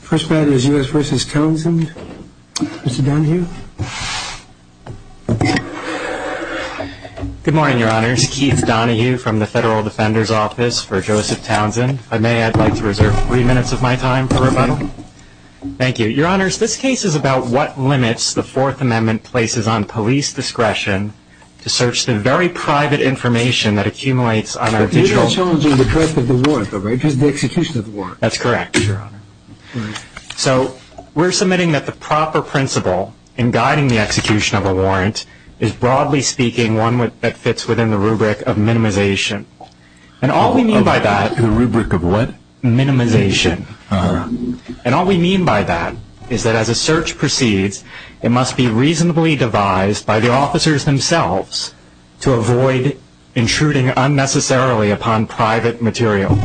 First matter is U.S. v. Townsend. Mr. Donahue. Good morning, your honors. Keith Donahue from the Federal Defender's Office for Joseph Townsend. If I may, I'd like to reserve three minutes of my time for rebuttal. Thank you. Your honors, this case is about what limits the Fourth Amendment places on police discretion to search the very private information that accumulates on our digital... That's correct, your honor. So, we're submitting that the proper principle in guiding the execution of a warrant is broadly speaking one that fits within the rubric of minimization. And all we mean by that... The rubric of what? Minimization. Uh-huh. And all we mean by that is that as a search proceeds, it must be reasonably devised by the officers themselves to avoid intruding unnecessarily upon private material.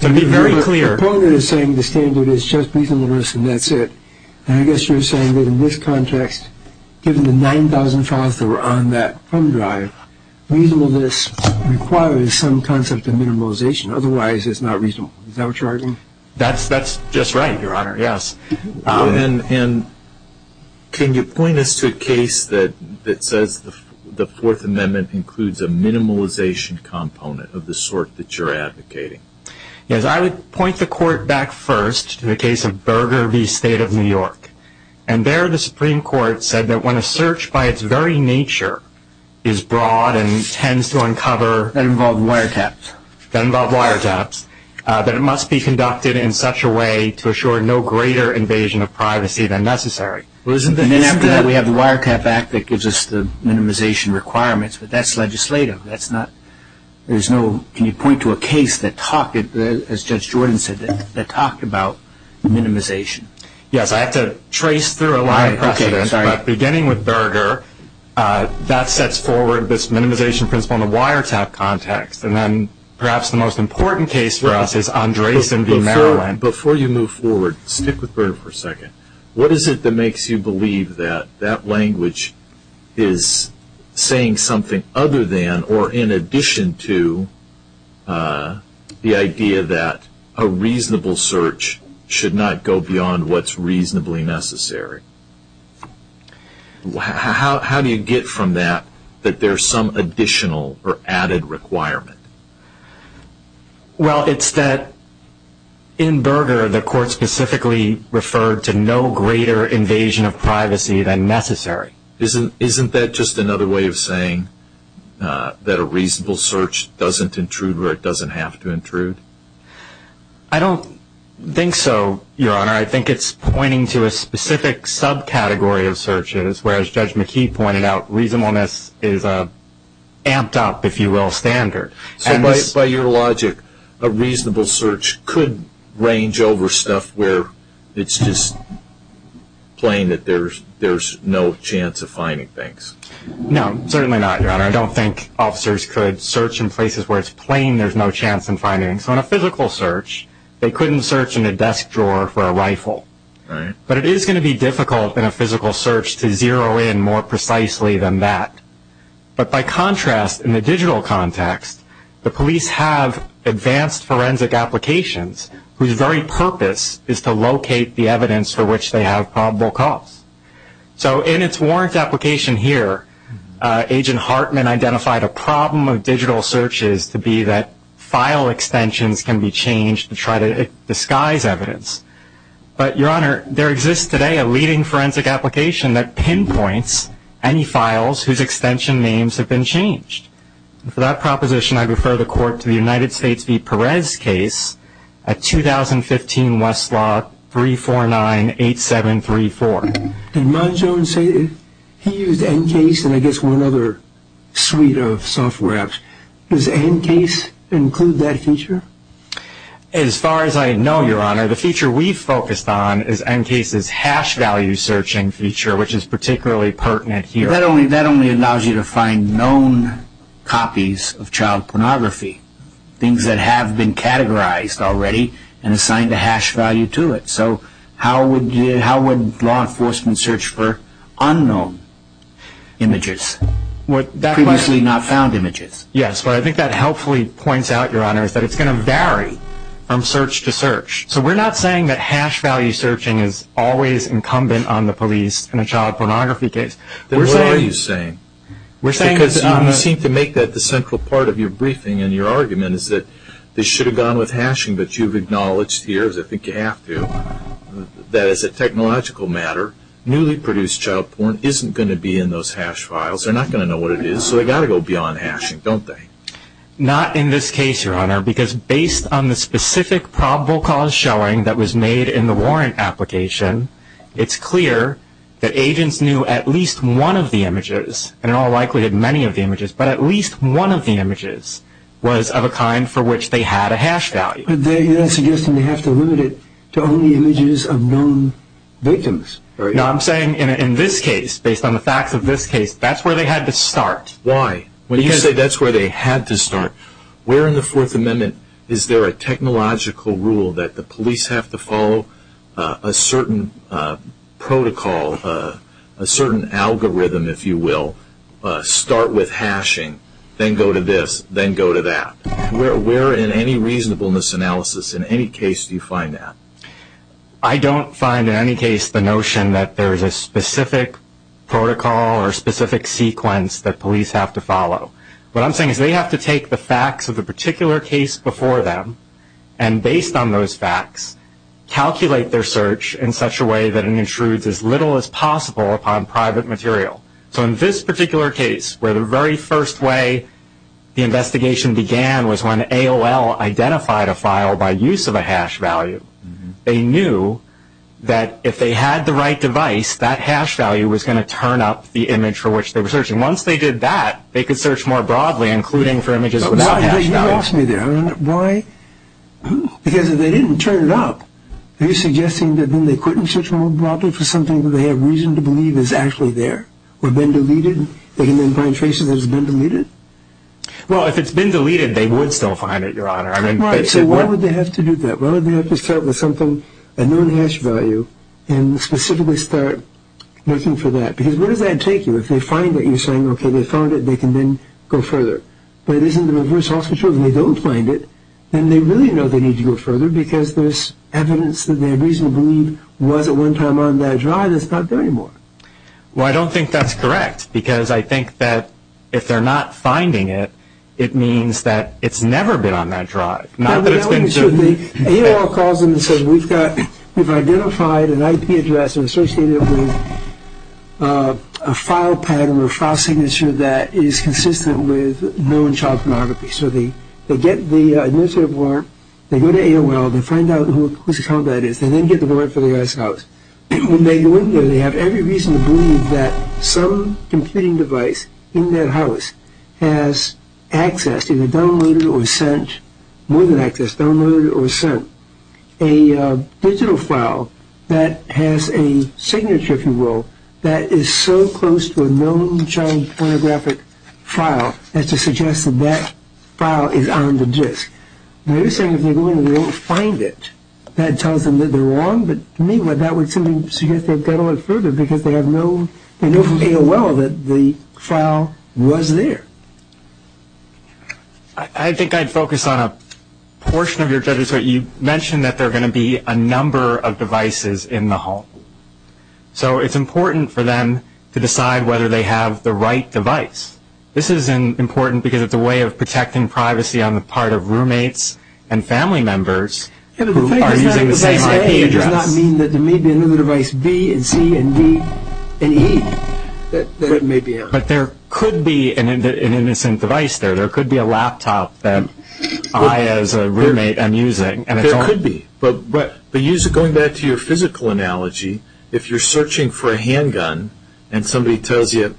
To be very clear... The proponent is saying the standard is just reasonable risk and that's it. And I guess you're saying that in this context, given the 9,000 files that were on that thumb drive, reasonableness requires some concept of minimization. Otherwise, it's not reasonable. Is that what you're arguing? That's just right, your honor, yes. And can you point us to a case that says the Fourth Amendment includes a minimalization component of the sort that you're advocating? Yes, I would point the court back first to the case of Burger v. State of New York. And there the Supreme Court said that when a search by its very nature is broad and tends to uncover... That involve wiretaps. That involve wiretaps. That it must be conducted in such a way to assure no greater invasion of privacy than necessary. And then after that we have the Wiretap Act that gives us the minimization requirements, but that's legislative. That's not... There's no... Can you point to a case that talked, as Judge Jordan said, that talked about minimization? Yes, I have to trace through a lot of precedent, but beginning with Burger, that sets forward this minimization principle in the wiretap context. And then perhaps the most important case for us is Andreessen v. Maryland. Before you move forward, stick with Burger for a second. What is it that makes you believe that that language is saying something other than or in addition to the idea that a reasonable search should not go beyond what's reasonably necessary? How do you get from that that there's some additional or added requirement? Well, it's that in Burger the court specifically referred to no greater invasion of privacy than necessary. Isn't that just another way of saying that a reasonable search doesn't intrude where it doesn't have to intrude? I don't think so, Your Honor. I think it's pointing to a specific subcategory of searches, whereas Judge McKee pointed out reasonableness is an amped up, if you will, standard. So by your logic, a reasonable search could range over stuff where it's just plain that there's no chance of finding things? No, certainly not, Your Honor. I don't think officers could search in places where it's plain there's no chance in finding. So in a physical search, they couldn't search in a desk drawer for a rifle. But it is going to be difficult in a physical search to zero in more precisely than that. But by contrast, in the digital context, the police have advanced forensic applications whose very purpose is to locate the evidence for which they have probable cause. So in its warrant application here, Agent Hartman identified a problem of digital searches to be that file extensions can be changed to try to disguise evidence. But, Your Honor, there exists today a leading forensic application that pinpoints any files whose extension names have been changed. For that proposition, I refer the Court to the United States v. Perez case at 2015 Westlaw 349-8734. Did Mongeon say he used NCASE and I guess one other suite of software apps? Does NCASE include that feature? As far as I know, Your Honor, the feature we focused on is NCASE's hash value searching feature, which is particularly pertinent here. That only allows you to find known copies of child pornography, things that have been categorized already and assigned a hash value to it. So how would law enforcement search for unknown images, previously not found images? Yes, but I think that helpfully points out, Your Honor, that it's going to vary from search to search. So we're not saying that hash value searching is always incumbent on the police in a child pornography case. Then what are you saying? Because you seem to make that the central part of your briefing and your argument is that they should have gone with hashing, but you've acknowledged here, as I think you have to, that as a technological matter, newly produced child porn isn't going to be in those hash files. They're not going to know what it is, so they've got to go beyond hashing, don't they? Not in this case, Your Honor, because based on the specific probable cause showing that was made in the warrant application, it's clear that agents knew at least one of the images, and in all likelihood many of the images, but at least one of the images was of a kind for which they had a hash value. You're suggesting they have to limit it to only images of known victims. No, I'm saying in this case, based on the facts of this case, that's where they had to start. Why? When you say that's where they had to start, where in the Fourth Amendment is there a technological rule that the police have to follow a certain protocol, a certain algorithm, if you will, start with hashing, then go to this, then go to that. Where in any reasonableness analysis, in any case, do you find that? I don't find in any case the notion that there is a specific protocol or specific sequence that police have to follow. What I'm saying is they have to take the facts of the particular case before them, and based on those facts, calculate their search in such a way that it intrudes as little as possible upon private material. So in this particular case, where the very first way the investigation began was when AOL identified a file by use of a hash value, they knew that if they had the right device, that hash value was going to turn up the image for which they were searching. Once they did that, they could search more broadly, including for images without hash value. You lost me there. Why? Because if they didn't turn it up, are you suggesting that then they couldn't search more broadly for something that they have reason to believe is actually there, or been deleted, they can then find traces that it's been deleted? Well, if it's been deleted, they would still find it, Your Honor. So why would they have to do that? Why would they have to start with something, a known hash value, and specifically start looking for that? Because where does that take you? If they find it, you're saying, okay, they found it, they can then go further. But if it's in the reverse hospital and they don't find it, then they really know they need to go further because there's evidence that they reasonably believe was at one time on that drive and it's not there anymore. Well, I don't think that's correct, because I think that if they're not finding it, it means that it's never been on that drive. AOL calls them and says, we've identified an IP address associated with a file pattern or file signature that is consistent with known child pornography. So they get the administrative warrant, they go to AOL, they find out whose account that is, and then get the warrant for the guy's house. When they go in there, they have every reason to believe that some computing device in that house has access, either downloaded or sent, more than access, downloaded or sent, a digital file that has a signature, if you will, that is so close to a known child pornographic file as to suggest that that file is on the disk. Now, you're saying if they go in and they don't find it, that tells them that they're wrong? But to me, that would simply suggest they've got to look further, because they know from AOL that the file was there. I think I'd focus on a portion of your judgment. You mentioned that there are going to be a number of devices in the home. So it's important for them to decide whether they have the right device. This is important because it's a way of protecting privacy on the part of roommates and family members who are using the same IP address. That does not mean that there may be another device B and C and D and E that may be out. But there could be an innocent device there. There could be a laptop that I, as a roommate, am using. There could be, but going back to your physical analogy, if you're searching for a handgun and somebody tells you,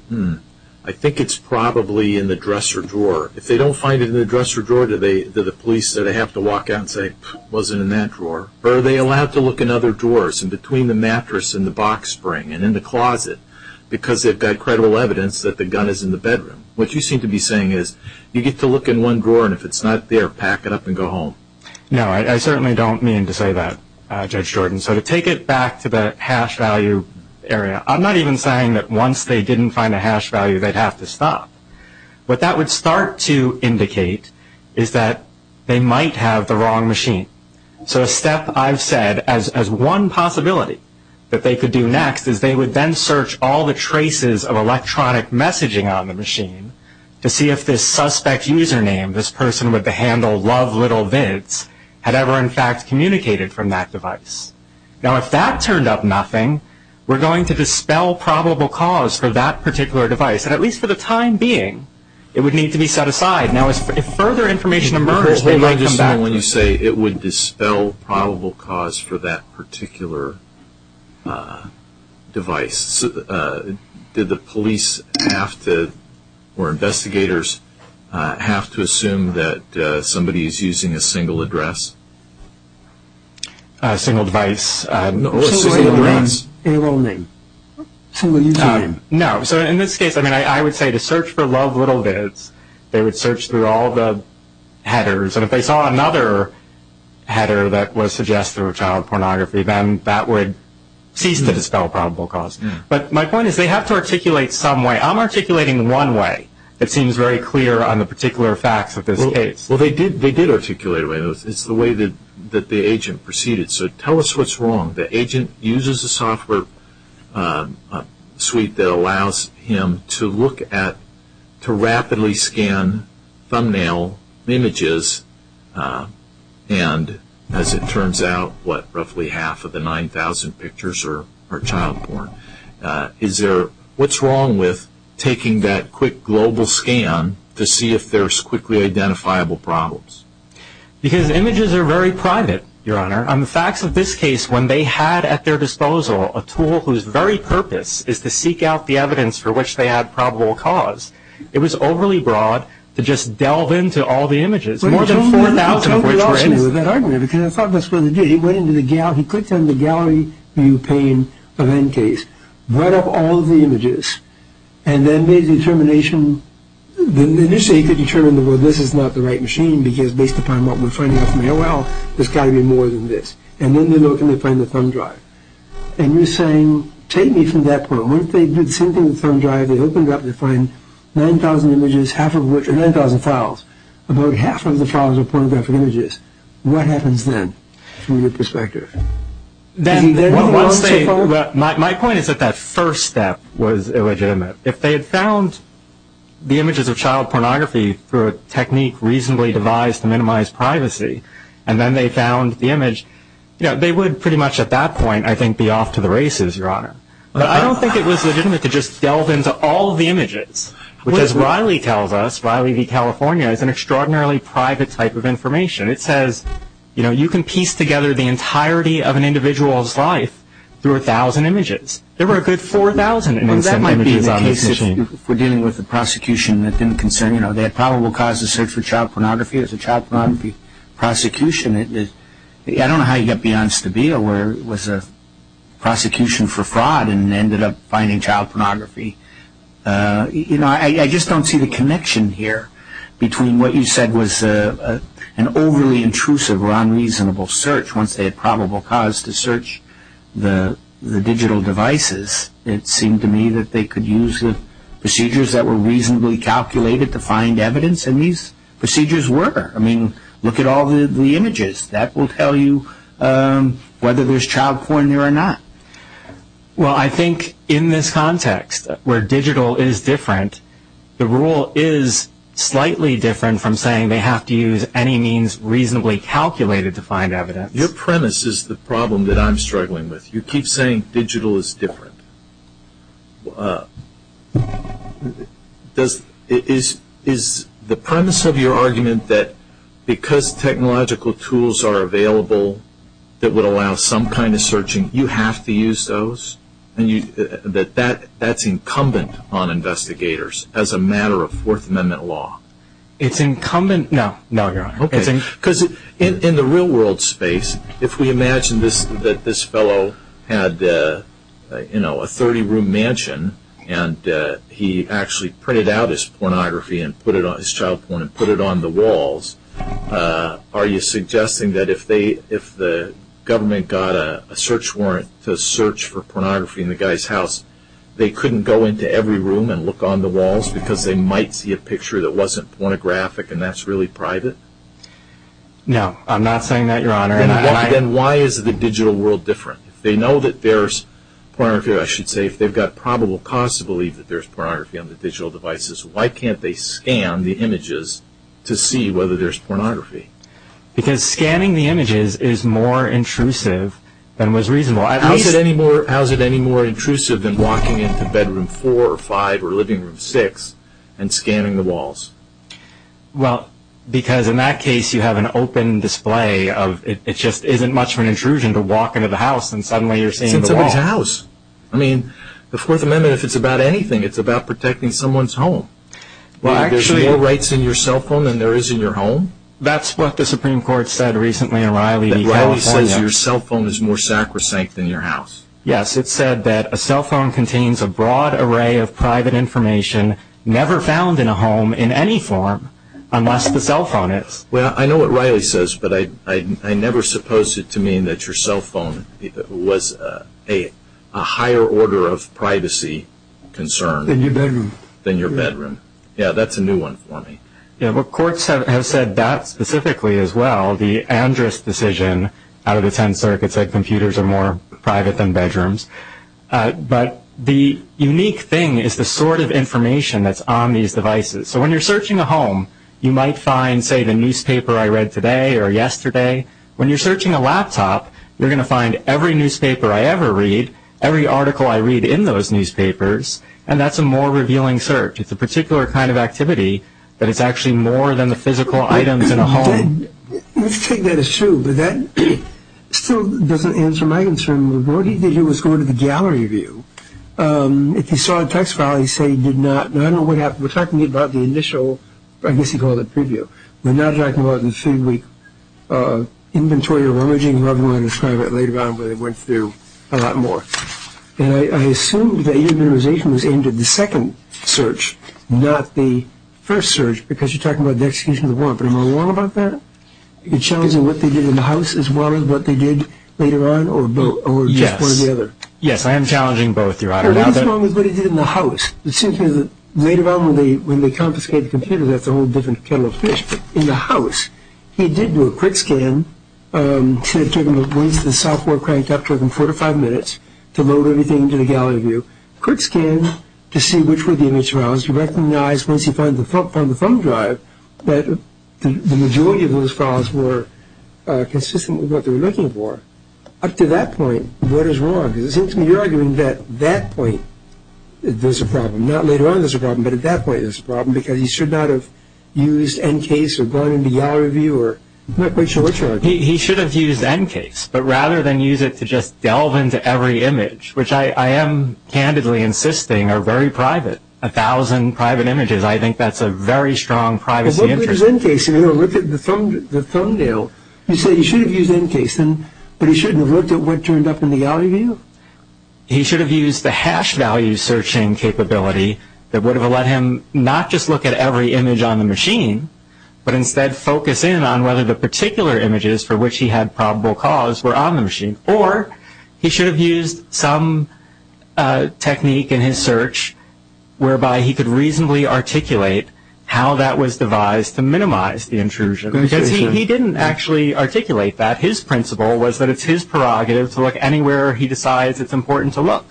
I think it's probably in the dresser drawer, if they don't find it in the dresser drawer, do the police have to walk out and say, it wasn't in that drawer? Or are they allowed to look in other drawers, in between the mattress and the box spring and in the closet, because they've got credible evidence that the gun is in the bedroom? What you seem to be saying is you get to look in one drawer, and if it's not there, pack it up and go home. No, I certainly don't mean to say that, Judge Jordan. So to take it back to the hash value area, I'm not even saying that once they didn't find a hash value they'd have to stop. What that would start to indicate is that they might have the wrong machine. So a step I've said as one possibility that they could do next is they would then search all the traces of electronic messaging on the machine to see if this suspect's username, this person with the handle lovelittlevids, had ever in fact communicated from that device. Now, if that turned up nothing, we're going to dispel probable cause for that particular device, and at least for the time being, it would need to be set aside. Now, if further information emerges, they might come back. When you say it would dispel probable cause for that particular device, did the police have to, or investigators, have to assume that somebody is using a single address? A single device. Or a single address. A single username. No. So in this case, I would say to search for lovelittlevids, they would search through all the headers, and if they saw another header that was suggested through child pornography, then that would cease to dispel probable cause. But my point is they have to articulate some way. I'm articulating one way. It seems very clear on the particular facts of this case. Well, they did articulate it. It's the way that the agent proceeded. So tell us what's wrong. The agent uses a software suite that allows him to look at, to rapidly scan thumbnail images, and as it turns out, what, roughly half of the 9,000 pictures are child porn. Is there, what's wrong with taking that quick global scan to see if there's quickly identifiable problems? Because images are very private, Your Honor. On the facts of this case, when they had at their disposal a tool whose very purpose is to seek out the evidence for which they had probable cause, it was overly broad to just delve into all the images. More than 4,000 of which were images. Well, tell me what else he did with that argument, because I thought that's what he did. He went into the gallery. He clicked on the gallery view pane of end case, brought up all of the images, and then made a determination. Initially, he could determine, well, this is not the right machine, because based upon what we're finding out from AOL, there's got to be more than this. And then they look and they find the thumb drive. And you're saying, take me from that point. What if they did the same thing with the thumb drive? They opened it up. They find 9,000 images, half of which are 9,000 files. About half of the files are pornographic images. What happens then from your perspective? Is he dead wrong so far? My point is that that first step was illegitimate. If they had found the images of child pornography through a technique reasonably devised to minimize privacy, and then they found the image, they would pretty much at that point, I think, be off to the races, Your Honor. But I don't think it was legitimate to just delve into all of the images, which as Riley tells us, Riley v. California, is an extraordinarily private type of information. It says you can piece together the entirety of an individual's life through 1,000 images. There were a good 4,000 images on the machine. That might be the case if we're dealing with a prosecution that didn't concern, you know, they had probable cause to search for child pornography as a child pornography prosecution. I don't know how you got Beyonce to be aware it was a prosecution for fraud and ended up finding child pornography. You know, I just don't see the connection here between what you said was an overly intrusive or unreasonable search once they had probable cause to search the digital devices. It seemed to me that they could use the procedures that were reasonably calculated to find evidence, and these procedures were. I mean, look at all the images. That will tell you whether there's child porn there or not. Well, I think in this context where digital is different, the rule is slightly different from saying they have to use any means reasonably calculated to find evidence. Your premise is the problem that I'm struggling with. You keep saying digital is different. Is the premise of your argument that because technological tools are available that would allow some kind of searching, you have to use those? That that's incumbent on investigators as a matter of Fourth Amendment law? It's incumbent. No, no, Your Honor. Okay. Because in the real world space, if we imagine that this fellow had a 30-room mansion and he actually printed out his pornography and put it on his child porn and put it on the walls, are you suggesting that if the government got a search warrant to search for pornography in the guy's house, they couldn't go into every room and look on the walls because they might see a picture that wasn't pornographic and that's really private? No, I'm not saying that, Your Honor. Then why is the digital world different? If they know that there's pornography, or I should say if they've got probable cause to believe that there's pornography on the digital devices, why can't they scan the images to see whether there's pornography? Because scanning the images is more intrusive than was reasonable. How is it any more intrusive than walking into Bedroom 4 or 5 or Living Room 6 and scanning the walls? Well, because in that case you have an open display. It just isn't much of an intrusion to walk into the house and suddenly you're seeing the walls. It's in somebody's house. The Fourth Amendment, if it's about anything, it's about protecting someone's home. There's more rights in your cell phone than there is in your home? That's what the Supreme Court said recently in Riley v. California. Riley says your cell phone is more sacrosanct than your house. Yes, it said that a cell phone contains a broad array of private information never found in a home in any form unless the cell phone is. Well, I know what Riley says, but I never supposed it to mean that your cell phone was a higher order of privacy concern. Than your bedroom. Than your bedroom. Yeah, that's a new one for me. Yeah, but courts have said that specifically as well. The Andrus decision out of the 10 circuits said computers are more private than bedrooms. But the unique thing is the sort of information that's on these devices. So when you're searching a home, you might find, say, the newspaper I read today or yesterday. When you're searching a laptop, you're going to find every newspaper I ever read, every article I read in those newspapers, and that's a more revealing search. It's a particular kind of activity that is actually more than the physical items in a home. Let's take that as true, but that still doesn't answer my concern. What he did was go to the gallery view. If he saw a text file, he'd say he did not. Now, I don't know what happened. We're talking about the initial, I guess you'd call it preview. We're not talking about the three-week inventory or rummaging. I don't know how to describe it later on, but it went through a lot more. And I assume that your minimization was aimed at the second search, not the first search, because you're talking about the execution of the warrant. But am I wrong about that? Are you challenging what they did in the house as well as what they did later on or just one or the other? Yes, I am challenging both, Your Honor. What is wrong with what he did in the house? It seems to me that later on when they confiscated the computer, that's a whole different kettle of fish. In the house, he did do a quick scan to the software cranked up, took him four to five minutes to load everything into the gallery view, quick scan to see which were the image files, to recognize once he found the thumb drive that the majority of those files were consistent with what they were looking for. Up to that point, what is wrong? Because it seems to me you're arguing that at that point there's a problem. Not later on there's a problem, but at that point there's a problem because he should not have used NCASE or gone into gallery view. I'm not quite sure which one. He should have used NCASE, but rather than use it to just delve into every image, which I am candidly insisting are very private, a thousand private images. I think that's a very strong privacy interest. Well, look at his NCASE. Look at the thumbnail. You say he should have used NCASE, but he shouldn't have looked at what turned up in the gallery view? He should have used the hash value searching capability that would have let him not just look at every image on the machine, but instead focus in on whether the particular images for which he had probable cause were on the machine, or he should have used some technique in his search whereby he could reasonably articulate how that was devised to minimize the intrusion. Because he didn't actually articulate that. His principle was that it's his prerogative to look anywhere he decides it's important to look.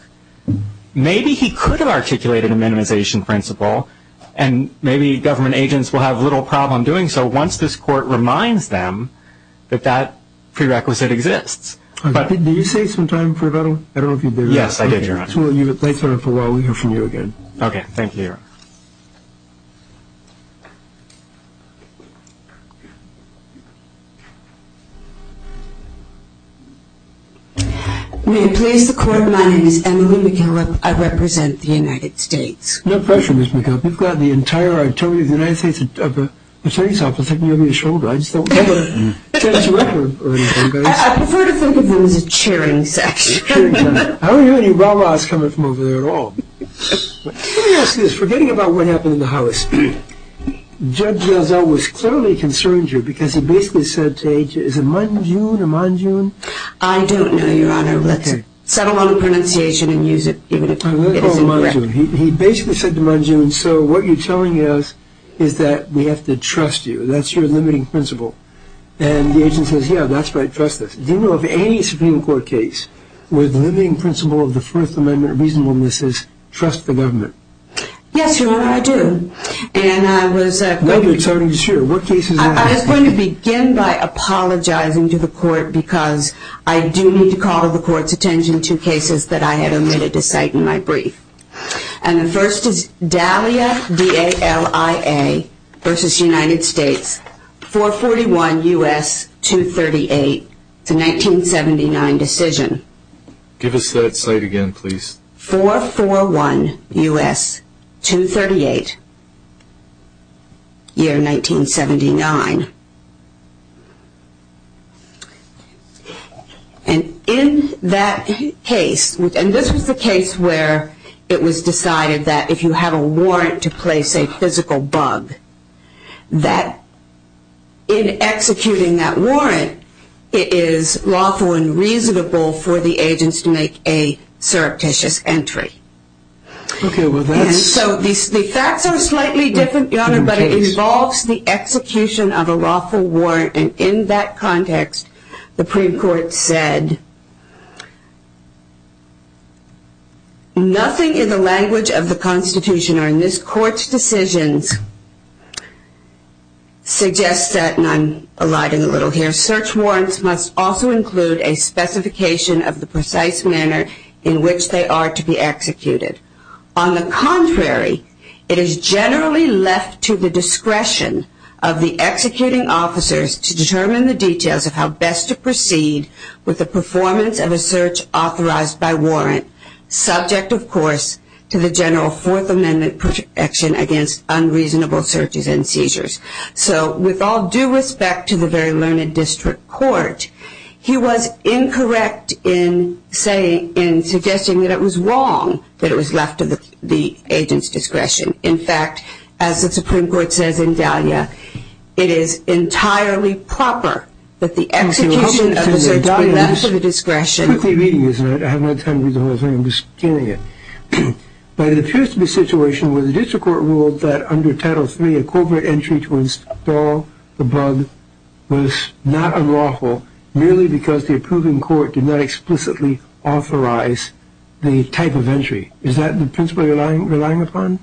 Maybe he could have articulated a minimization principle, and maybe government agents will have little problem doing so once this court reminds them that that prerequisite exists. Did you save some time for that one? Yes, I did, Your Honor. We'll hear from you again. Okay, thank you, Your Honor. May it please the Court, my name is Emily McGillip. I represent the United States. No pressure, Ms. McGillip. You've got the entirety of the United States Attorney's Office looking over your shoulder. I just don't want to interrupt or anything. I prefer to think of this as a cheering session. I don't hear any rah-rahs coming from over there at all. Let me ask you this. Forgetting about what happened in the House, Judge Razzell was clearly concerned here because he basically said to Agent, is it Mon-June or Mon-June? I don't know, Your Honor. Let's settle on the pronunciation and use it even if it isn't correct. Let's call it Mon-June. He basically said to Mon-June, so what you're telling us is that we have to trust you. That's your limiting principle. And the Agent says, yeah, that's right, trust us. Do you know of any Supreme Court case where the limiting principle of the First Amendment reasonableness is trust the government? Yes, Your Honor, I do. And I was going to begin by apologizing to the court because I do need to call the court's attention to cases that I had omitted to cite in my brief. And the first is Dalia, D-A-L-I-A v. United States, 441 U.S. 238. It's a 1979 decision. Give us that cite again, please. 441 U.S. 238, year 1979. And in that case, and this was the case where it was decided that if you have a warrant to place a physical bug, that in executing that warrant, it is lawful and reasonable for the agents to make a surreptitious entry. Okay, well that's... And so the facts are slightly different, Your Honor, but it involves the execution of a lawful warrant. And in that context, the Supreme Court said, nothing in the language of the Constitution or in this Court's decisions suggests that, and I'm eliding a little here, search warrants must also include a specification of the precise manner in which they are to be executed. On the contrary, it is generally left to the discretion of the executing officers to determine the details of how best to proceed with the performance of a search authorized by warrant, subject, of course, to the general Fourth Amendment protection against unreasonable searches and seizures. So with all due respect to the very learned District Court, he was incorrect in saying, in suggesting that it was wrong that it was left to the agent's discretion. In fact, as the Supreme Court says in Dahlia, it is entirely proper that the execution of a search warrant left to the discretion... Excuse me, Your Honor, I have no time to read the whole thing, I'm just kidding you. But it appears to be a situation where the District Court ruled that under Title III, a covert entry to install the bug was not unlawful, merely because the approving court did not explicitly authorize the type of entry. Is that the principle you're relying upon?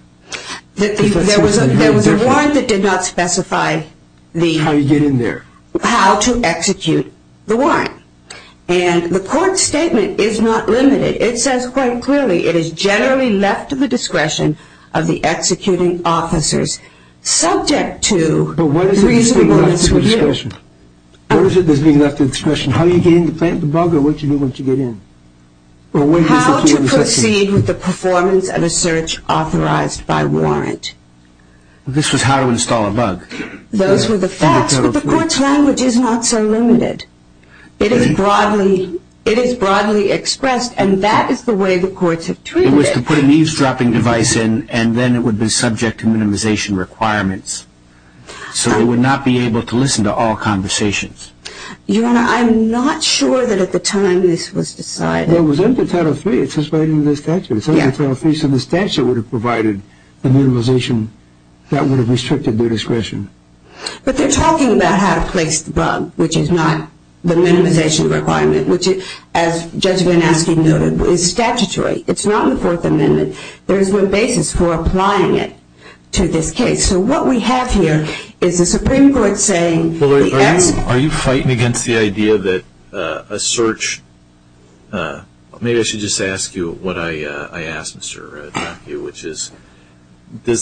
There was a warrant that did not specify the... How you get in there. How to execute the warrant. And the Court's statement is not limited. It says quite clearly, it is generally left to the discretion of the executing officers, subject to the reasonableness... But what is it that's being left to the discretion? What is it that's being left to the discretion? How you get in to plant the bug, or what you do once you get in? How to proceed with the performance of a search authorized by warrant. This was how to install a bug. Those were the facts, but the Court's language is not so limited. It is broadly expressed, and that is the way the Courts have treated it. It was to put an eavesdropping device in, and then it would be subject to minimization requirements. So they would not be able to listen to all conversations. Your Honor, I'm not sure that at the time this was decided. Well, it was under Title III. It says right under the statute. It says under Title III, so the statute would have provided the minimization that would have restricted their discretion. But they're talking about how to place the bug, which is not the minimization requirement, which, as Judge Van Asken noted, is statutory. It's not in the Fourth Amendment. There is no basis for applying it to this case. So what we have here is the Supreme Court saying... Are you fighting against the idea that a search... Does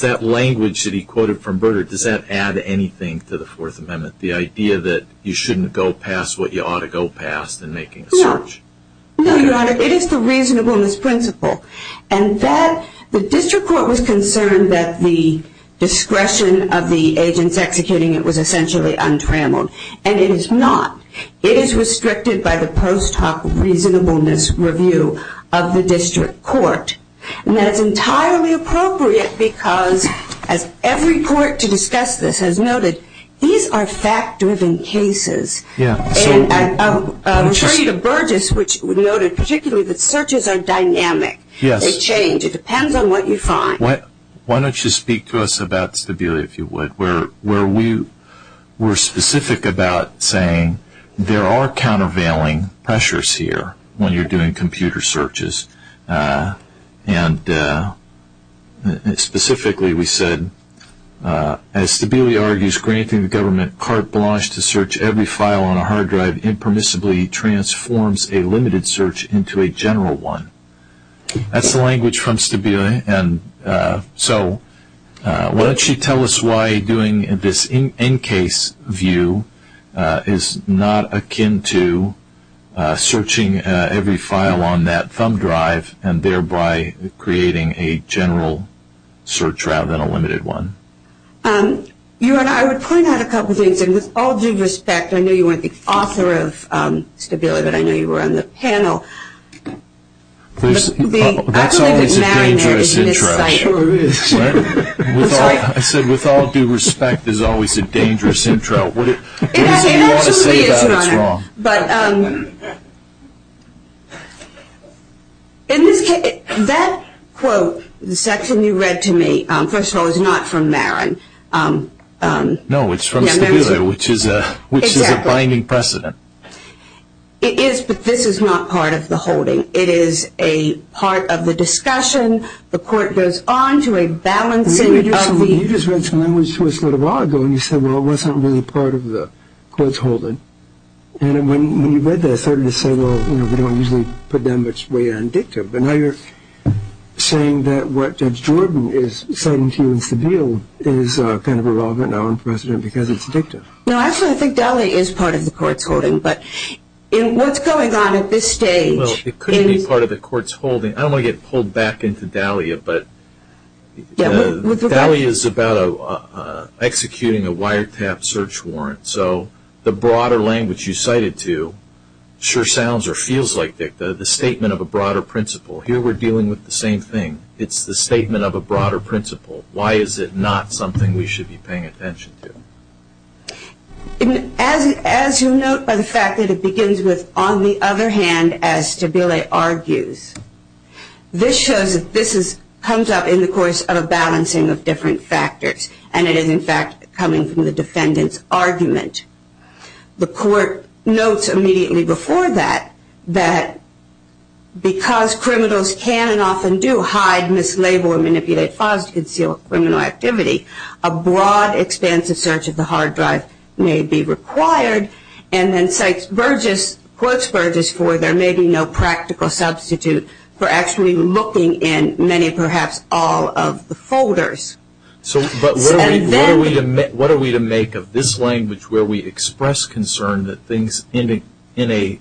that language that he quoted from Burdard, does that add anything to the Fourth Amendment, the idea that you shouldn't go past what you ought to go past in making a search? No. No, Your Honor. It is the reasonableness principle, and the District Court was concerned that the discretion of the agents executing it was essentially untrammeled, and it is not. It is restricted by the post hoc reasonableness review of the District Court, and that is entirely appropriate because, as every court to discuss this has noted, these are fact-driven cases. Yeah. And I'm afraid of Burgess, which noted particularly that searches are dynamic. Yes. They change. It depends on what you find. Why don't you speak to us about Stabilia, if you would, where we're specific about saying there are countervailing pressures here when you're doing computer searches, and specifically we said, as Stabilia argues, granting the government carte blanche to search every file on a hard drive impermissibly transforms a limited search into a general one. That's the language from Stabilia, and so why don't you tell us why doing this in-case view is not akin to searching every file on that thumb drive and thereby creating a general search rather than a limited one. I would point out a couple of things, and with all due respect, I know you weren't the author of Stabilia, but I know you were on the panel. That's always a dangerous intro. I said, with all due respect, there's always a dangerous intro. If you want to say that, it's wrong. But in this case, that quote, the section you read to me, first of all, is not from Marin. No, it's from Stabilia, which is a binding precedent. It is, but this is not part of the holding. It is a part of the discussion. The court goes on to a balancing of the- You just read some language to us a little while ago, and you said, well, it wasn't really part of the court's holding. And when you read that, I started to say, well, we don't usually put that much weight on dictum. But now you're saying that what Judge Jordan is citing to you in Stabilia is kind of irrelevant now in precedent because it's dictum. No, actually, I think DALIA is part of the court's holding. But what's going on at this stage- Well, it could be part of the court's holding. I don't want to get pulled back into DALIA. But DALIA is about executing a wiretap search warrant. So the broader language you cited to sure sounds or feels like dictum, the statement of a broader principle. Here we're dealing with the same thing. It's the statement of a broader principle. Why is it not something we should be paying attention to? As you note by the fact that it begins with, on the other hand, as Stabilia argues, this shows that this comes up in the course of a balancing of different factors, and it is, in fact, coming from the defendant's argument. The court notes immediately before that that because criminals can and often do hide, mislabel, and manipulate files to conceal a criminal activity, a broad, expansive search of the hard drive may be required. And then cites Burgess, quotes Burgess, for there may be no practical substitute for actually looking in many, perhaps all of the folders. But what are we to make of this language where we express concern that things in a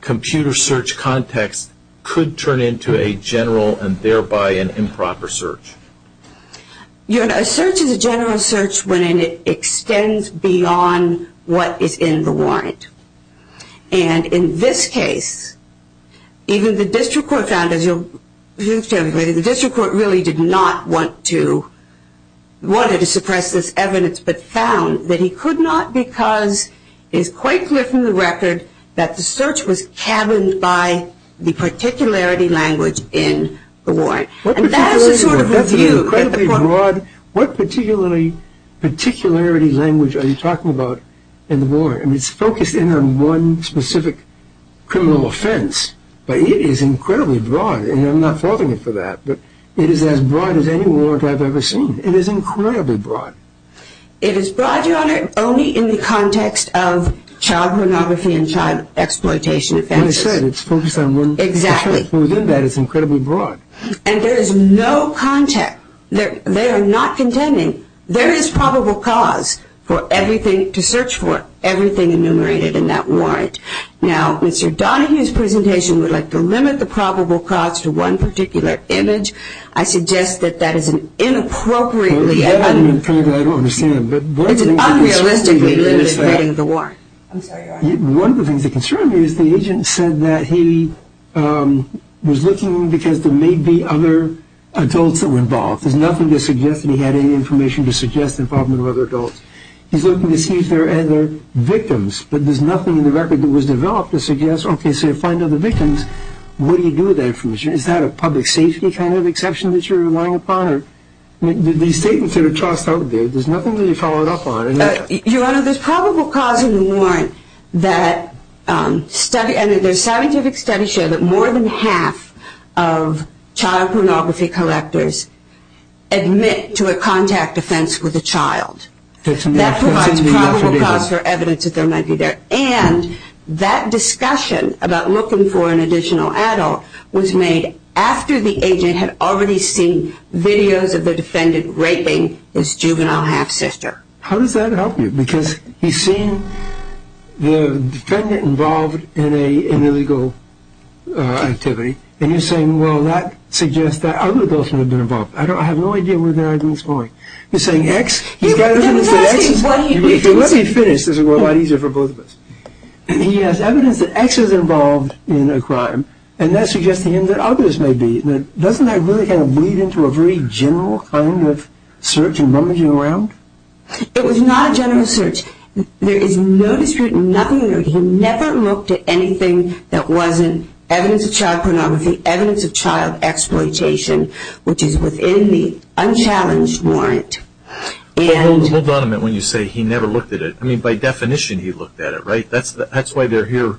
computer search context could turn into a general and thereby an improper search? A search is a general search when it extends beyond what is in the warrant. And in this case, even the district court found, as you'll see, the district court really did not want to suppress this evidence, but found that he could not because it is quite clear from the record that the search was caverned by the particularity language in the warrant. And that is a sort of review. What particularity language are you talking about in the warrant? I mean, it's focused in on one specific criminal offense, but it is incredibly broad. And I'm not faulting you for that, but it is as broad as any warrant I've ever seen. It is incredibly broad. It is broad, Your Honor, only in the context of child pornography and child exploitation offenses. Like I said, it's focused on one. Exactly. The search within that is incredibly broad. And there is no context. They are not contending. There is probable cause for everything to search for, everything enumerated in that warrant. Now, Mr. Donahue's presentation would like to limit the probable cause to one particular image. I suggest that that is an inappropriately unrealistically limited reading of the warrant. I'm sorry, Your Honor. One of the things that concerns me is the agent said that he was looking because there may be other adults involved. There's nothing to suggest that he had any information to suggest involvement of other adults. He's looking to see if there are other victims, but there's nothing in the record that was developed to suggest, okay, so you find other victims. What do you do with that information? Is that a public safety kind of exception that you're relying upon? These statements that are tossed out there, there's nothing that you followed up on. Your Honor, there's probable cause in the warrant that study, and there's scientific studies show that more than half of child pornography collectors admit to a contact offense with a child. That provides probable cause for evidence that there might be there. And that discussion about looking for an additional adult was made after the agent had already seen videos of the defendant raping his juvenile half-sister. How does that help you? Because he's seen the defendant involved in an illegal activity, and you're saying, well, that suggests that other adults may have been involved. I have no idea where the argument is going. You're saying X? Let me finish. This will go a lot easier for both of us. He has evidence that X is involved in a crime, and that suggests to him that others may be. Doesn't that really kind of lead into a very general kind of search and rummaging around? It was not a general search. There is no dispute, nothing. He never looked at anything that wasn't evidence of child pornography, evidence of child exploitation, which is within the unchallenged warrant. Hold on a minute when you say he never looked at it. I mean, by definition he looked at it, right? That's why they're here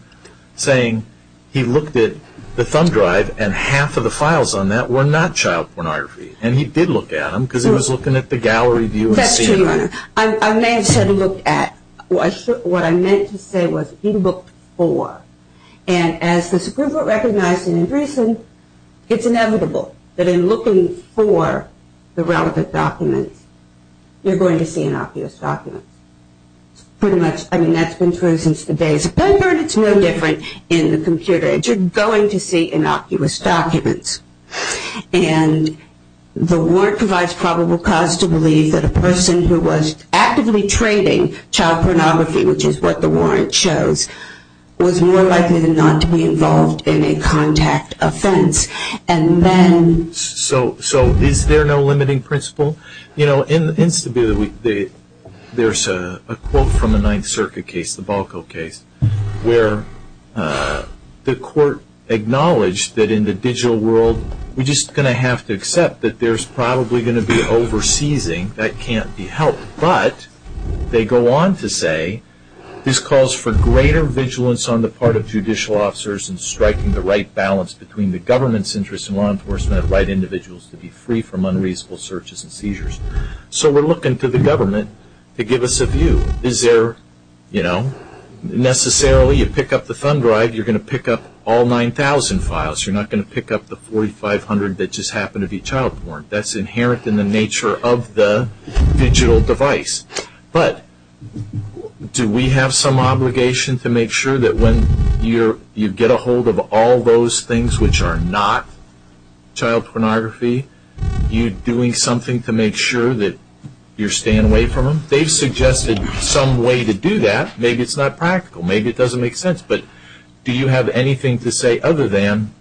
saying he looked at the thumb drive and half of the files on that were not child pornography. And he did look at them because he was looking at the gallery view. That's true, Your Honor. I may have said he looked at. What I meant to say was he looked for. And as the Supreme Court recognized in Andreessen, it's inevitable that in looking for the relevant documents, you're going to see innocuous documents. Pretty much, I mean, that's been true since the days of Pemberton. It's no different in the computer. You're going to see innocuous documents. And the warrant provides probable cause to believe that a person who was actively trading child pornography, which is what the warrant shows, was more likely than not to be involved in a contact offense. And then. So is there no limiting principle? You know, there's a quote from a Ninth Circuit case, the Balco case, where the court acknowledged that in the digital world, we're just going to have to accept that there's probably going to be over-seizing. That can't be helped. But they go on to say, this calls for greater vigilance on the part of judicial officers in striking the right balance between the government's interests and law enforcement of right individuals to be free from unreasonable searches and seizures. So we're looking to the government to give us a view. Is there, you know, necessarily you pick up the thumb drive, you're going to pick up all 9,000 files. You're not going to pick up the 4,500 that just happened to be child porn. That's inherent in the nature of the digital device. But do we have some obligation to make sure that when you get a hold of all those things which are not child pornography, you're doing something to make sure that you're staying away from them? They've suggested some way to do that. Maybe it's not practical. Maybe it doesn't make sense. But do you have anything to say other than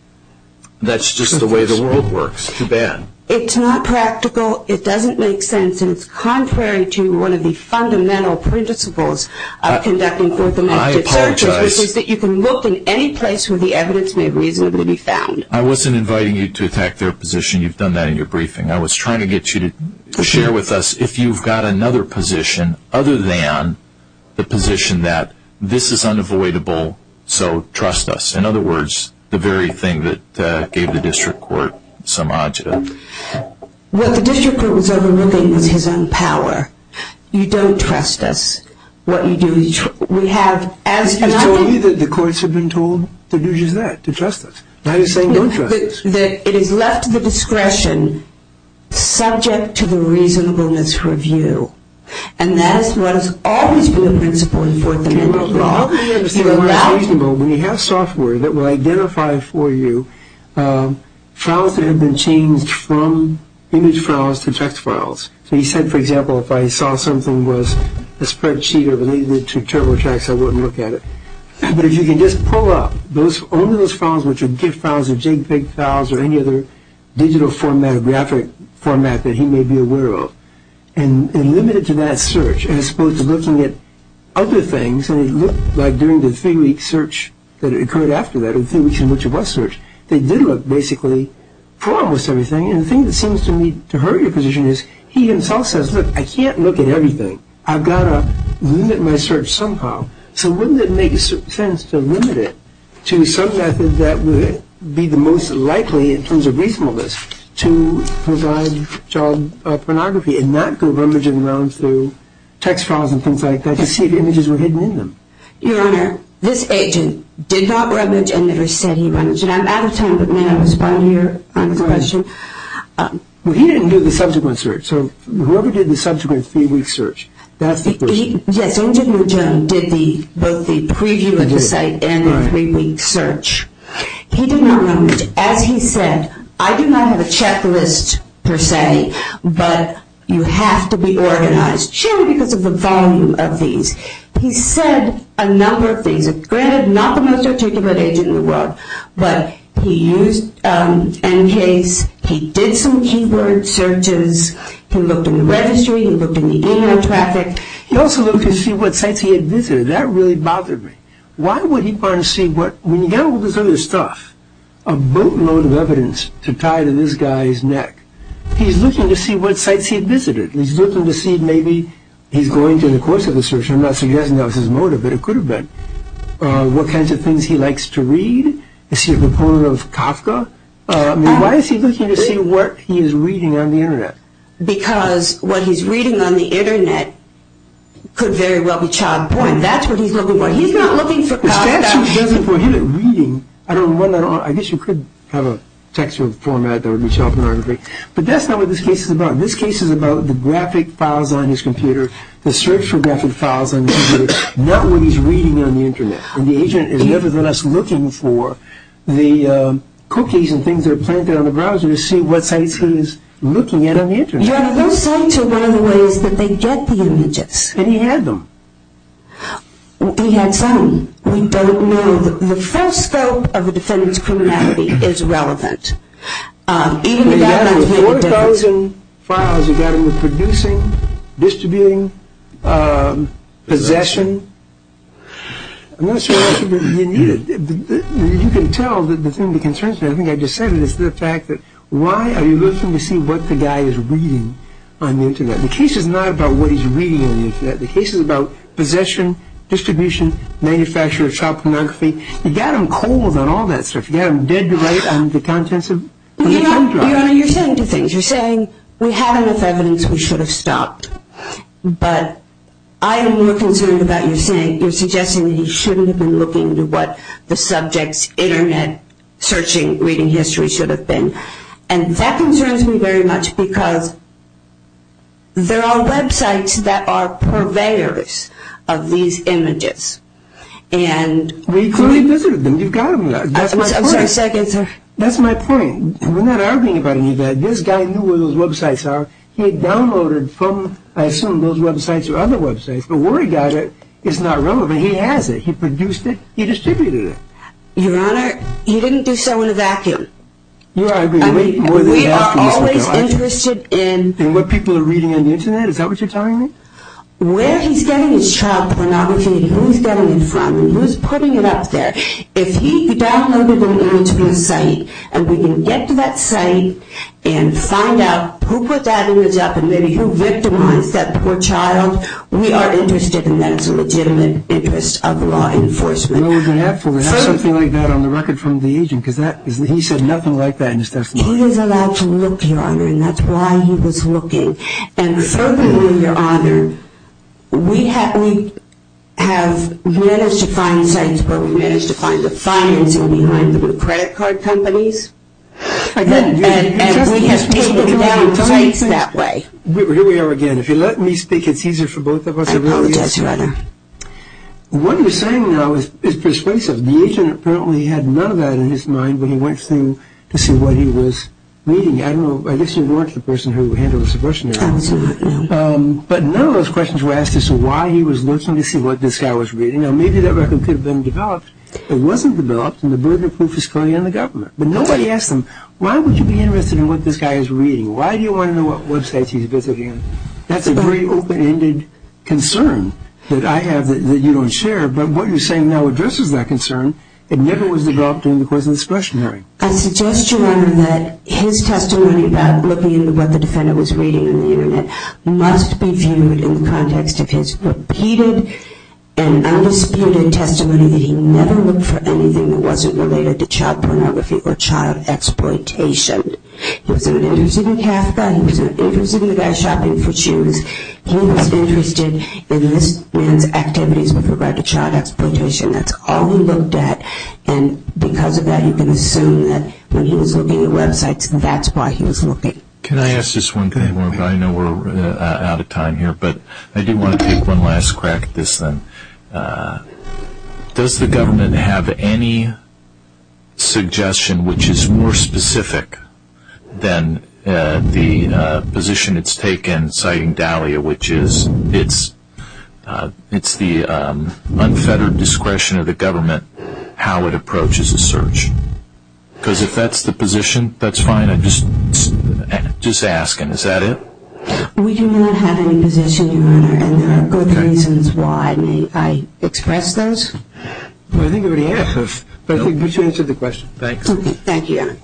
that's just the way the world works? It's too bad. It's not practical. It doesn't make sense. And it's contrary to one of the fundamental principles of conducting forthcoming searches, which is that you can look in any place where the evidence may reasonably be found. I wasn't inviting you to attack their position. You've done that in your briefing. I was trying to get you to share with us if you've got another position other than the position that this is unavoidable, so trust us. In other words, the very thing that gave the district court some odds. What the district court was overlooking was his own power. You don't trust us. You told me that the courts have been told to do just that, to trust us. Now you're saying don't trust us. It is left to the discretion, subject to the reasonableness review. And that is what has always been a principle in forthcoming law. When you have software that will identify for you files that have been changed from image files to text files. So he said, for example, if I saw something was a spreadsheet or related to TurboTax, I wouldn't look at it. But if you can just pull up only those files which are GIF files or JPEG files or any other digital format or graphic format that he may be aware of and limit it to that search as opposed to looking at other things. And it looked like during the three-week search that occurred after that, the three weeks in which it was searched, they did look basically for almost everything. And the thing that seems to me to hurt your position is he himself says, look, I can't look at everything. I've got to limit my search somehow. So wouldn't it make sense to limit it to some method that would be the most likely in terms of reasonableness to provide child pornography and not go rummaging around through text files and things like that to see if images were hidden in them? Your Honor, this agent did not rummage and never said he rummaged. And I'm out of time, but may I respond to your question? Well, he didn't do the subsequent search. So whoever did the subsequent three-week search, that's the person. Yes. Agent McJone did both the preview of the site and the three-week search. He did not rummage. As he said, I do not have a checklist per se, but you have to be organized, generally because of the volume of these. He said a number of things. Granted, not the most articulate agent in the world, but he used NCASE. He did some keyword searches. He looked in the registry. He looked in the email traffic. He also looked to see what sites he had visited. That really bothered me. Why would he want to see what, when you've got all this other stuff, a boatload of evidence to tie to this guy's neck, he's looking to see what sites he visited. He's looking to see maybe he's going through the course of the search. I'm not suggesting that was his motive, but it could have been. What kinds of things he likes to read. Is he a proponent of Kafka? I mean, why is he looking to see what he is reading on the Internet? Because what he's reading on the Internet could very well be child porn. That's what he's looking for. He's not looking for Kafka. The statute doesn't prohibit reading. I guess you could have a textual format that would be child pornography. But that's not what this case is about. This case is about the graphic files on his computer, the search for graphic files on his computer, not what he's reading on the Internet. And the agent is nevertheless looking for the cookies and things that are planted on the browser to see what sites he is looking at on the Internet. Those sites are one of the ways that they get the images. And he had them. He had some. We don't know. The full scope of the defendant's criminality is relevant. Even if that doesn't make a difference. He had 4,000 files. He got them with producing, distributing, possession. I'm not sure that's what he needed. You can tell that the thing that concerns me, I think I just said it, is the fact that why are you looking to see what the guy is reading on the Internet? The case is not about what he's reading on the Internet. The case is about possession, distribution, manufacture of child pornography. He got them cold on all that stuff. He got them dead to right on the contents of his phone drive. Your Honor, you're saying two things. You're saying we have enough evidence. We should have stopped. But I am more concerned about you saying, you're suggesting that he shouldn't have been looking to what the subject's Internet searching, reading history should have been. And that concerns me very much because there are websites that are purveyors of these images. We clearly visited them. You've got them. I'm sorry, a second, sir. That's my point. We're not arguing about any of that. This guy knew where those websites are. He had downloaded from, I assume, those websites or other websites. But where he got it is not relevant. He has it. He produced it. He distributed it. Your Honor, he didn't do so in a vacuum. Your Honor, I agree. We are always interested in what people are reading on the Internet. Is that what you're telling me? Where he's getting his child pornography and who he's getting it from and who's putting it up there, if he downloaded an image from a site and we can get to that site and find out who put that image up and maybe who victimized that poor child, we are interested in that. It's a legitimate interest of law enforcement. Something like that on the record from the agent, because he said nothing like that in his testimony. He was allowed to look, Your Honor, and that's why he was looking. And furthermore, Your Honor, we have managed to find sites where we managed to find the financing behind the credit card companies, and we have taken down sites that way. Here we are again. If you'll let me speak, it's easier for both of us. I apologize, Your Honor. What you're saying now is persuasive. The agent apparently had none of that in his mind when he went to see what he was reading. I don't know. I guess you weren't the person who handled the subversion there. Absolutely not. But none of those questions were asked as to why he was looking to see what this guy was reading. Now, maybe that record could have been developed. It wasn't developed, and the burden of proof is currently on the government. But nobody asked him, Why would you be interested in what this guy is reading? Why do you want to know what websites he's visiting? That's a very open-ended concern that I have that you don't share. But what you're saying now addresses that concern. It never was developed during the course of the discretionary. I suggest, Your Honor, that his testimony about looking at what the defendant was reading on the Internet must be viewed in the context of his repeated and undisputed testimony that he never looked for anything that wasn't related to child pornography or child exploitation. He wasn't interested in Kafka. He wasn't interested in the guy shopping for shoes. He was interested in this man's activities with regard to child exploitation. That's all he looked at, and because of that, you can assume that when he was looking at websites, that's why he was looking. Can I ask this one? I know we're out of time here, but I do want to take one last crack at this then. Does the government have any suggestion which is more specific than the position it's taken citing Dahlia, which is it's the unfettered discretion of the government how it approaches a search? Because if that's the position, that's fine. I'm just asking. We do not have any position, Your Honor, and there are good reasons why I express those. I think we've answered the question. Thank you, Your Honor.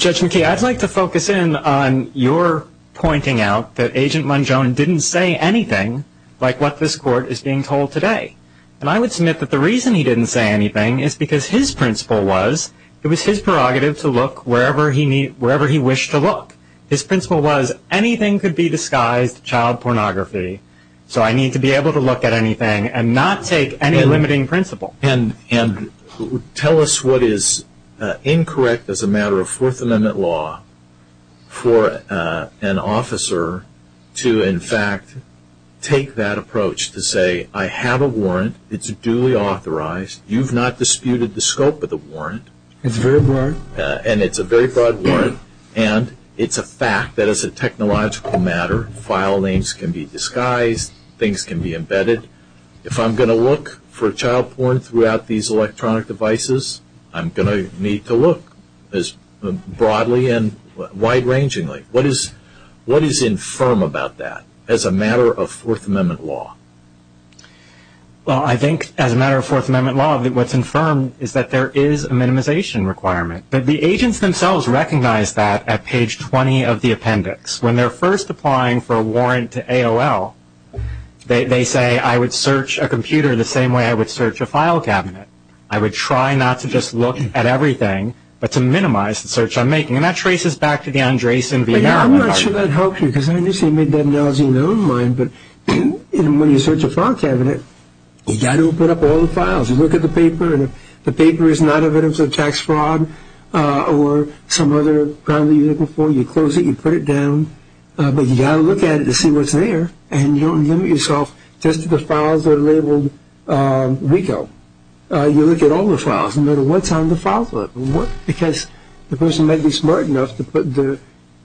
Judge McKee, I'd like to focus in on your pointing out that Agent Mongeon didn't say anything like what this Court is being told today. And I would submit that the reason he didn't say anything is because his principle was it was his prerogative to look wherever he wished to look. His principle was anything could be disguised child pornography, so I need to be able to look at anything and not take any limiting principle. And tell us what is incorrect as a matter of Fourth Amendment law for an officer to, in fact, take that approach to say I have a warrant. It's duly authorized. You've not disputed the scope of the warrant. It's very broad. And it's a very broad warrant. And it's a fact that it's a technological matter. File names can be disguised. Things can be embedded. If I'm going to look for child porn throughout these electronic devices, I'm going to need to look broadly and wide-rangingly. What is infirm about that as a matter of Fourth Amendment law? Well, I think as a matter of Fourth Amendment law, what's infirm is that there is a minimization requirement. But the agents themselves recognize that at page 20 of the appendix. When they're first applying for a warrant to AOL, they say I would search a computer the same way I would search a file cabinet. I would try not to just look at everything but to minimize the search I'm making. And that traces back to the Andreessen v. Merrill. I'm not sure that helped you because I understand you made that analogy in your own mind. But when you search a file cabinet, you've got to open up all the files. You look at the paper, and if the paper is not evidence of tax fraud or some other crime that you're looking for, you close it, you put it down. But you've got to look at it to see what's there. And you don't limit yourself just to the files that are labeled RICO. You look at all the files, no matter what's on the file folder. Because the person may be smart enough to put the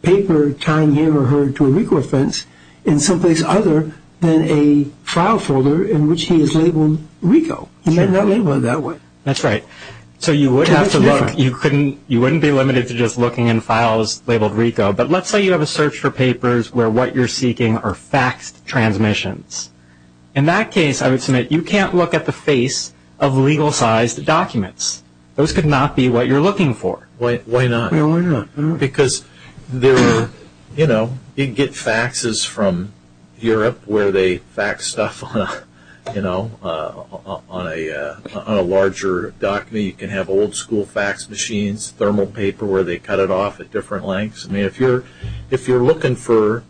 paper tying him or her to a RICO offense in someplace other than a file folder in which he is labeled RICO. He may not label it that way. That's right. So you would have to look. You wouldn't be limited to just looking in files labeled RICO. But let's say you have a search for papers where what you're seeking are faxed transmissions. In that case, I would submit, you can't look at the face of legal-sized documents. Those could not be what you're looking for. Why not? Because you get faxes from Europe where they fax stuff on a larger document. You can have old-school fax machines, thermal paper where they cut it off at different lengths. I mean, if you're looking for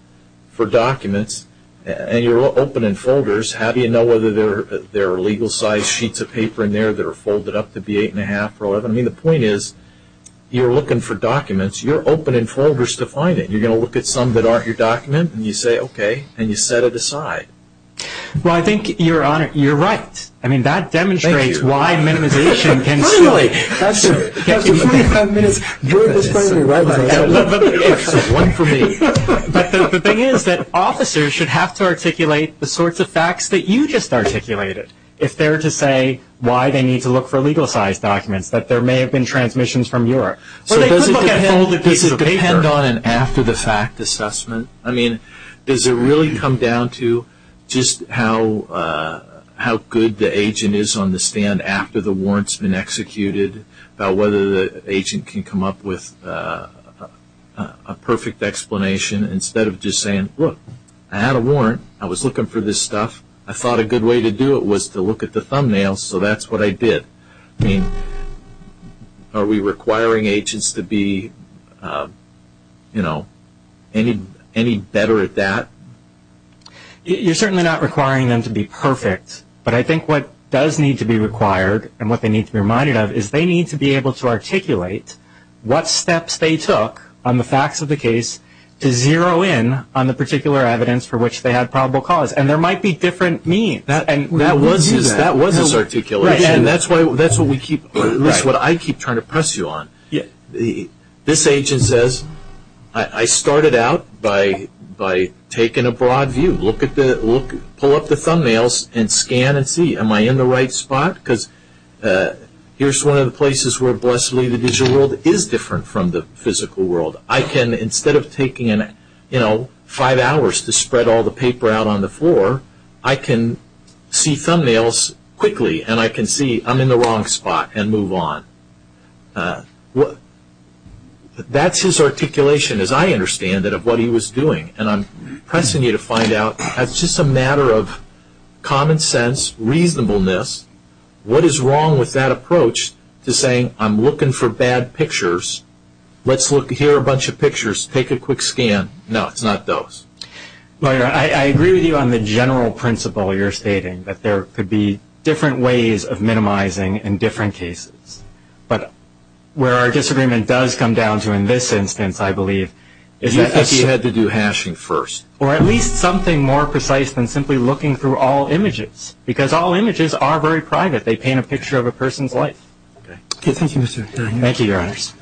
documents and you're open in folders, how do you know whether there are legal-sized sheets of paper in there that are folded up to be 8 1⁄2 or 11? I mean, the point is, you're looking for documents. You're open in folders to find it. You're going to look at some that aren't your document, and you say, okay, and you set it aside. Well, I think you're right. I mean, that demonstrates why minimization can still be there. This is one for me. But the thing is that officers should have to articulate the sorts of facts that you just articulated. It's fair to say why they need to look for legal-sized documents, that there may have been transmissions from Europe. So does it depend on an after-the-fact assessment? I mean, does it really come down to just how good the agent is on the stand after the warrant's been executed, about whether the agent can come up with a perfect explanation instead of just saying, look, I had a warrant. I was looking for this stuff. I thought a good way to do it was to look at the thumbnails, so that's what I did. I mean, are we requiring agents to be, you know, any better at that? You're certainly not requiring them to be perfect, but I think what does need to be required and what they need to be reminded of is they need to be able to articulate what steps they took on the facts of the case to zero in on the particular evidence for which they had probable cause. And there might be different means. That was his articulation, and that's what I keep trying to press you on. This agent says, I started out by taking a broad view. Pull up the thumbnails and scan and see, am I in the right spot? Because here's one of the places where, bless me, the digital world is different from the physical world. I can, instead of taking, you know, five hours to spread all the paper out on the floor, I can see thumbnails quickly and I can see I'm in the wrong spot and move on. That's his articulation, as I understand it, of what he was doing, and I'm pressing you to find out that's just a matter of common sense, reasonableness. What is wrong with that approach to saying I'm looking for bad pictures, let's look here a bunch of pictures, take a quick scan. No, it's not those. Well, I agree with you on the general principle you're stating, that there could be different ways of minimizing in different cases. But where our disagreement does come down to in this instance, I believe, is that I think you had to do hashing first. Or at least something more precise than simply looking through all images, because all images are very private. They paint a picture of a person's life. Okay, thank you, Mr. O'Connor. Thank you, Your Honors.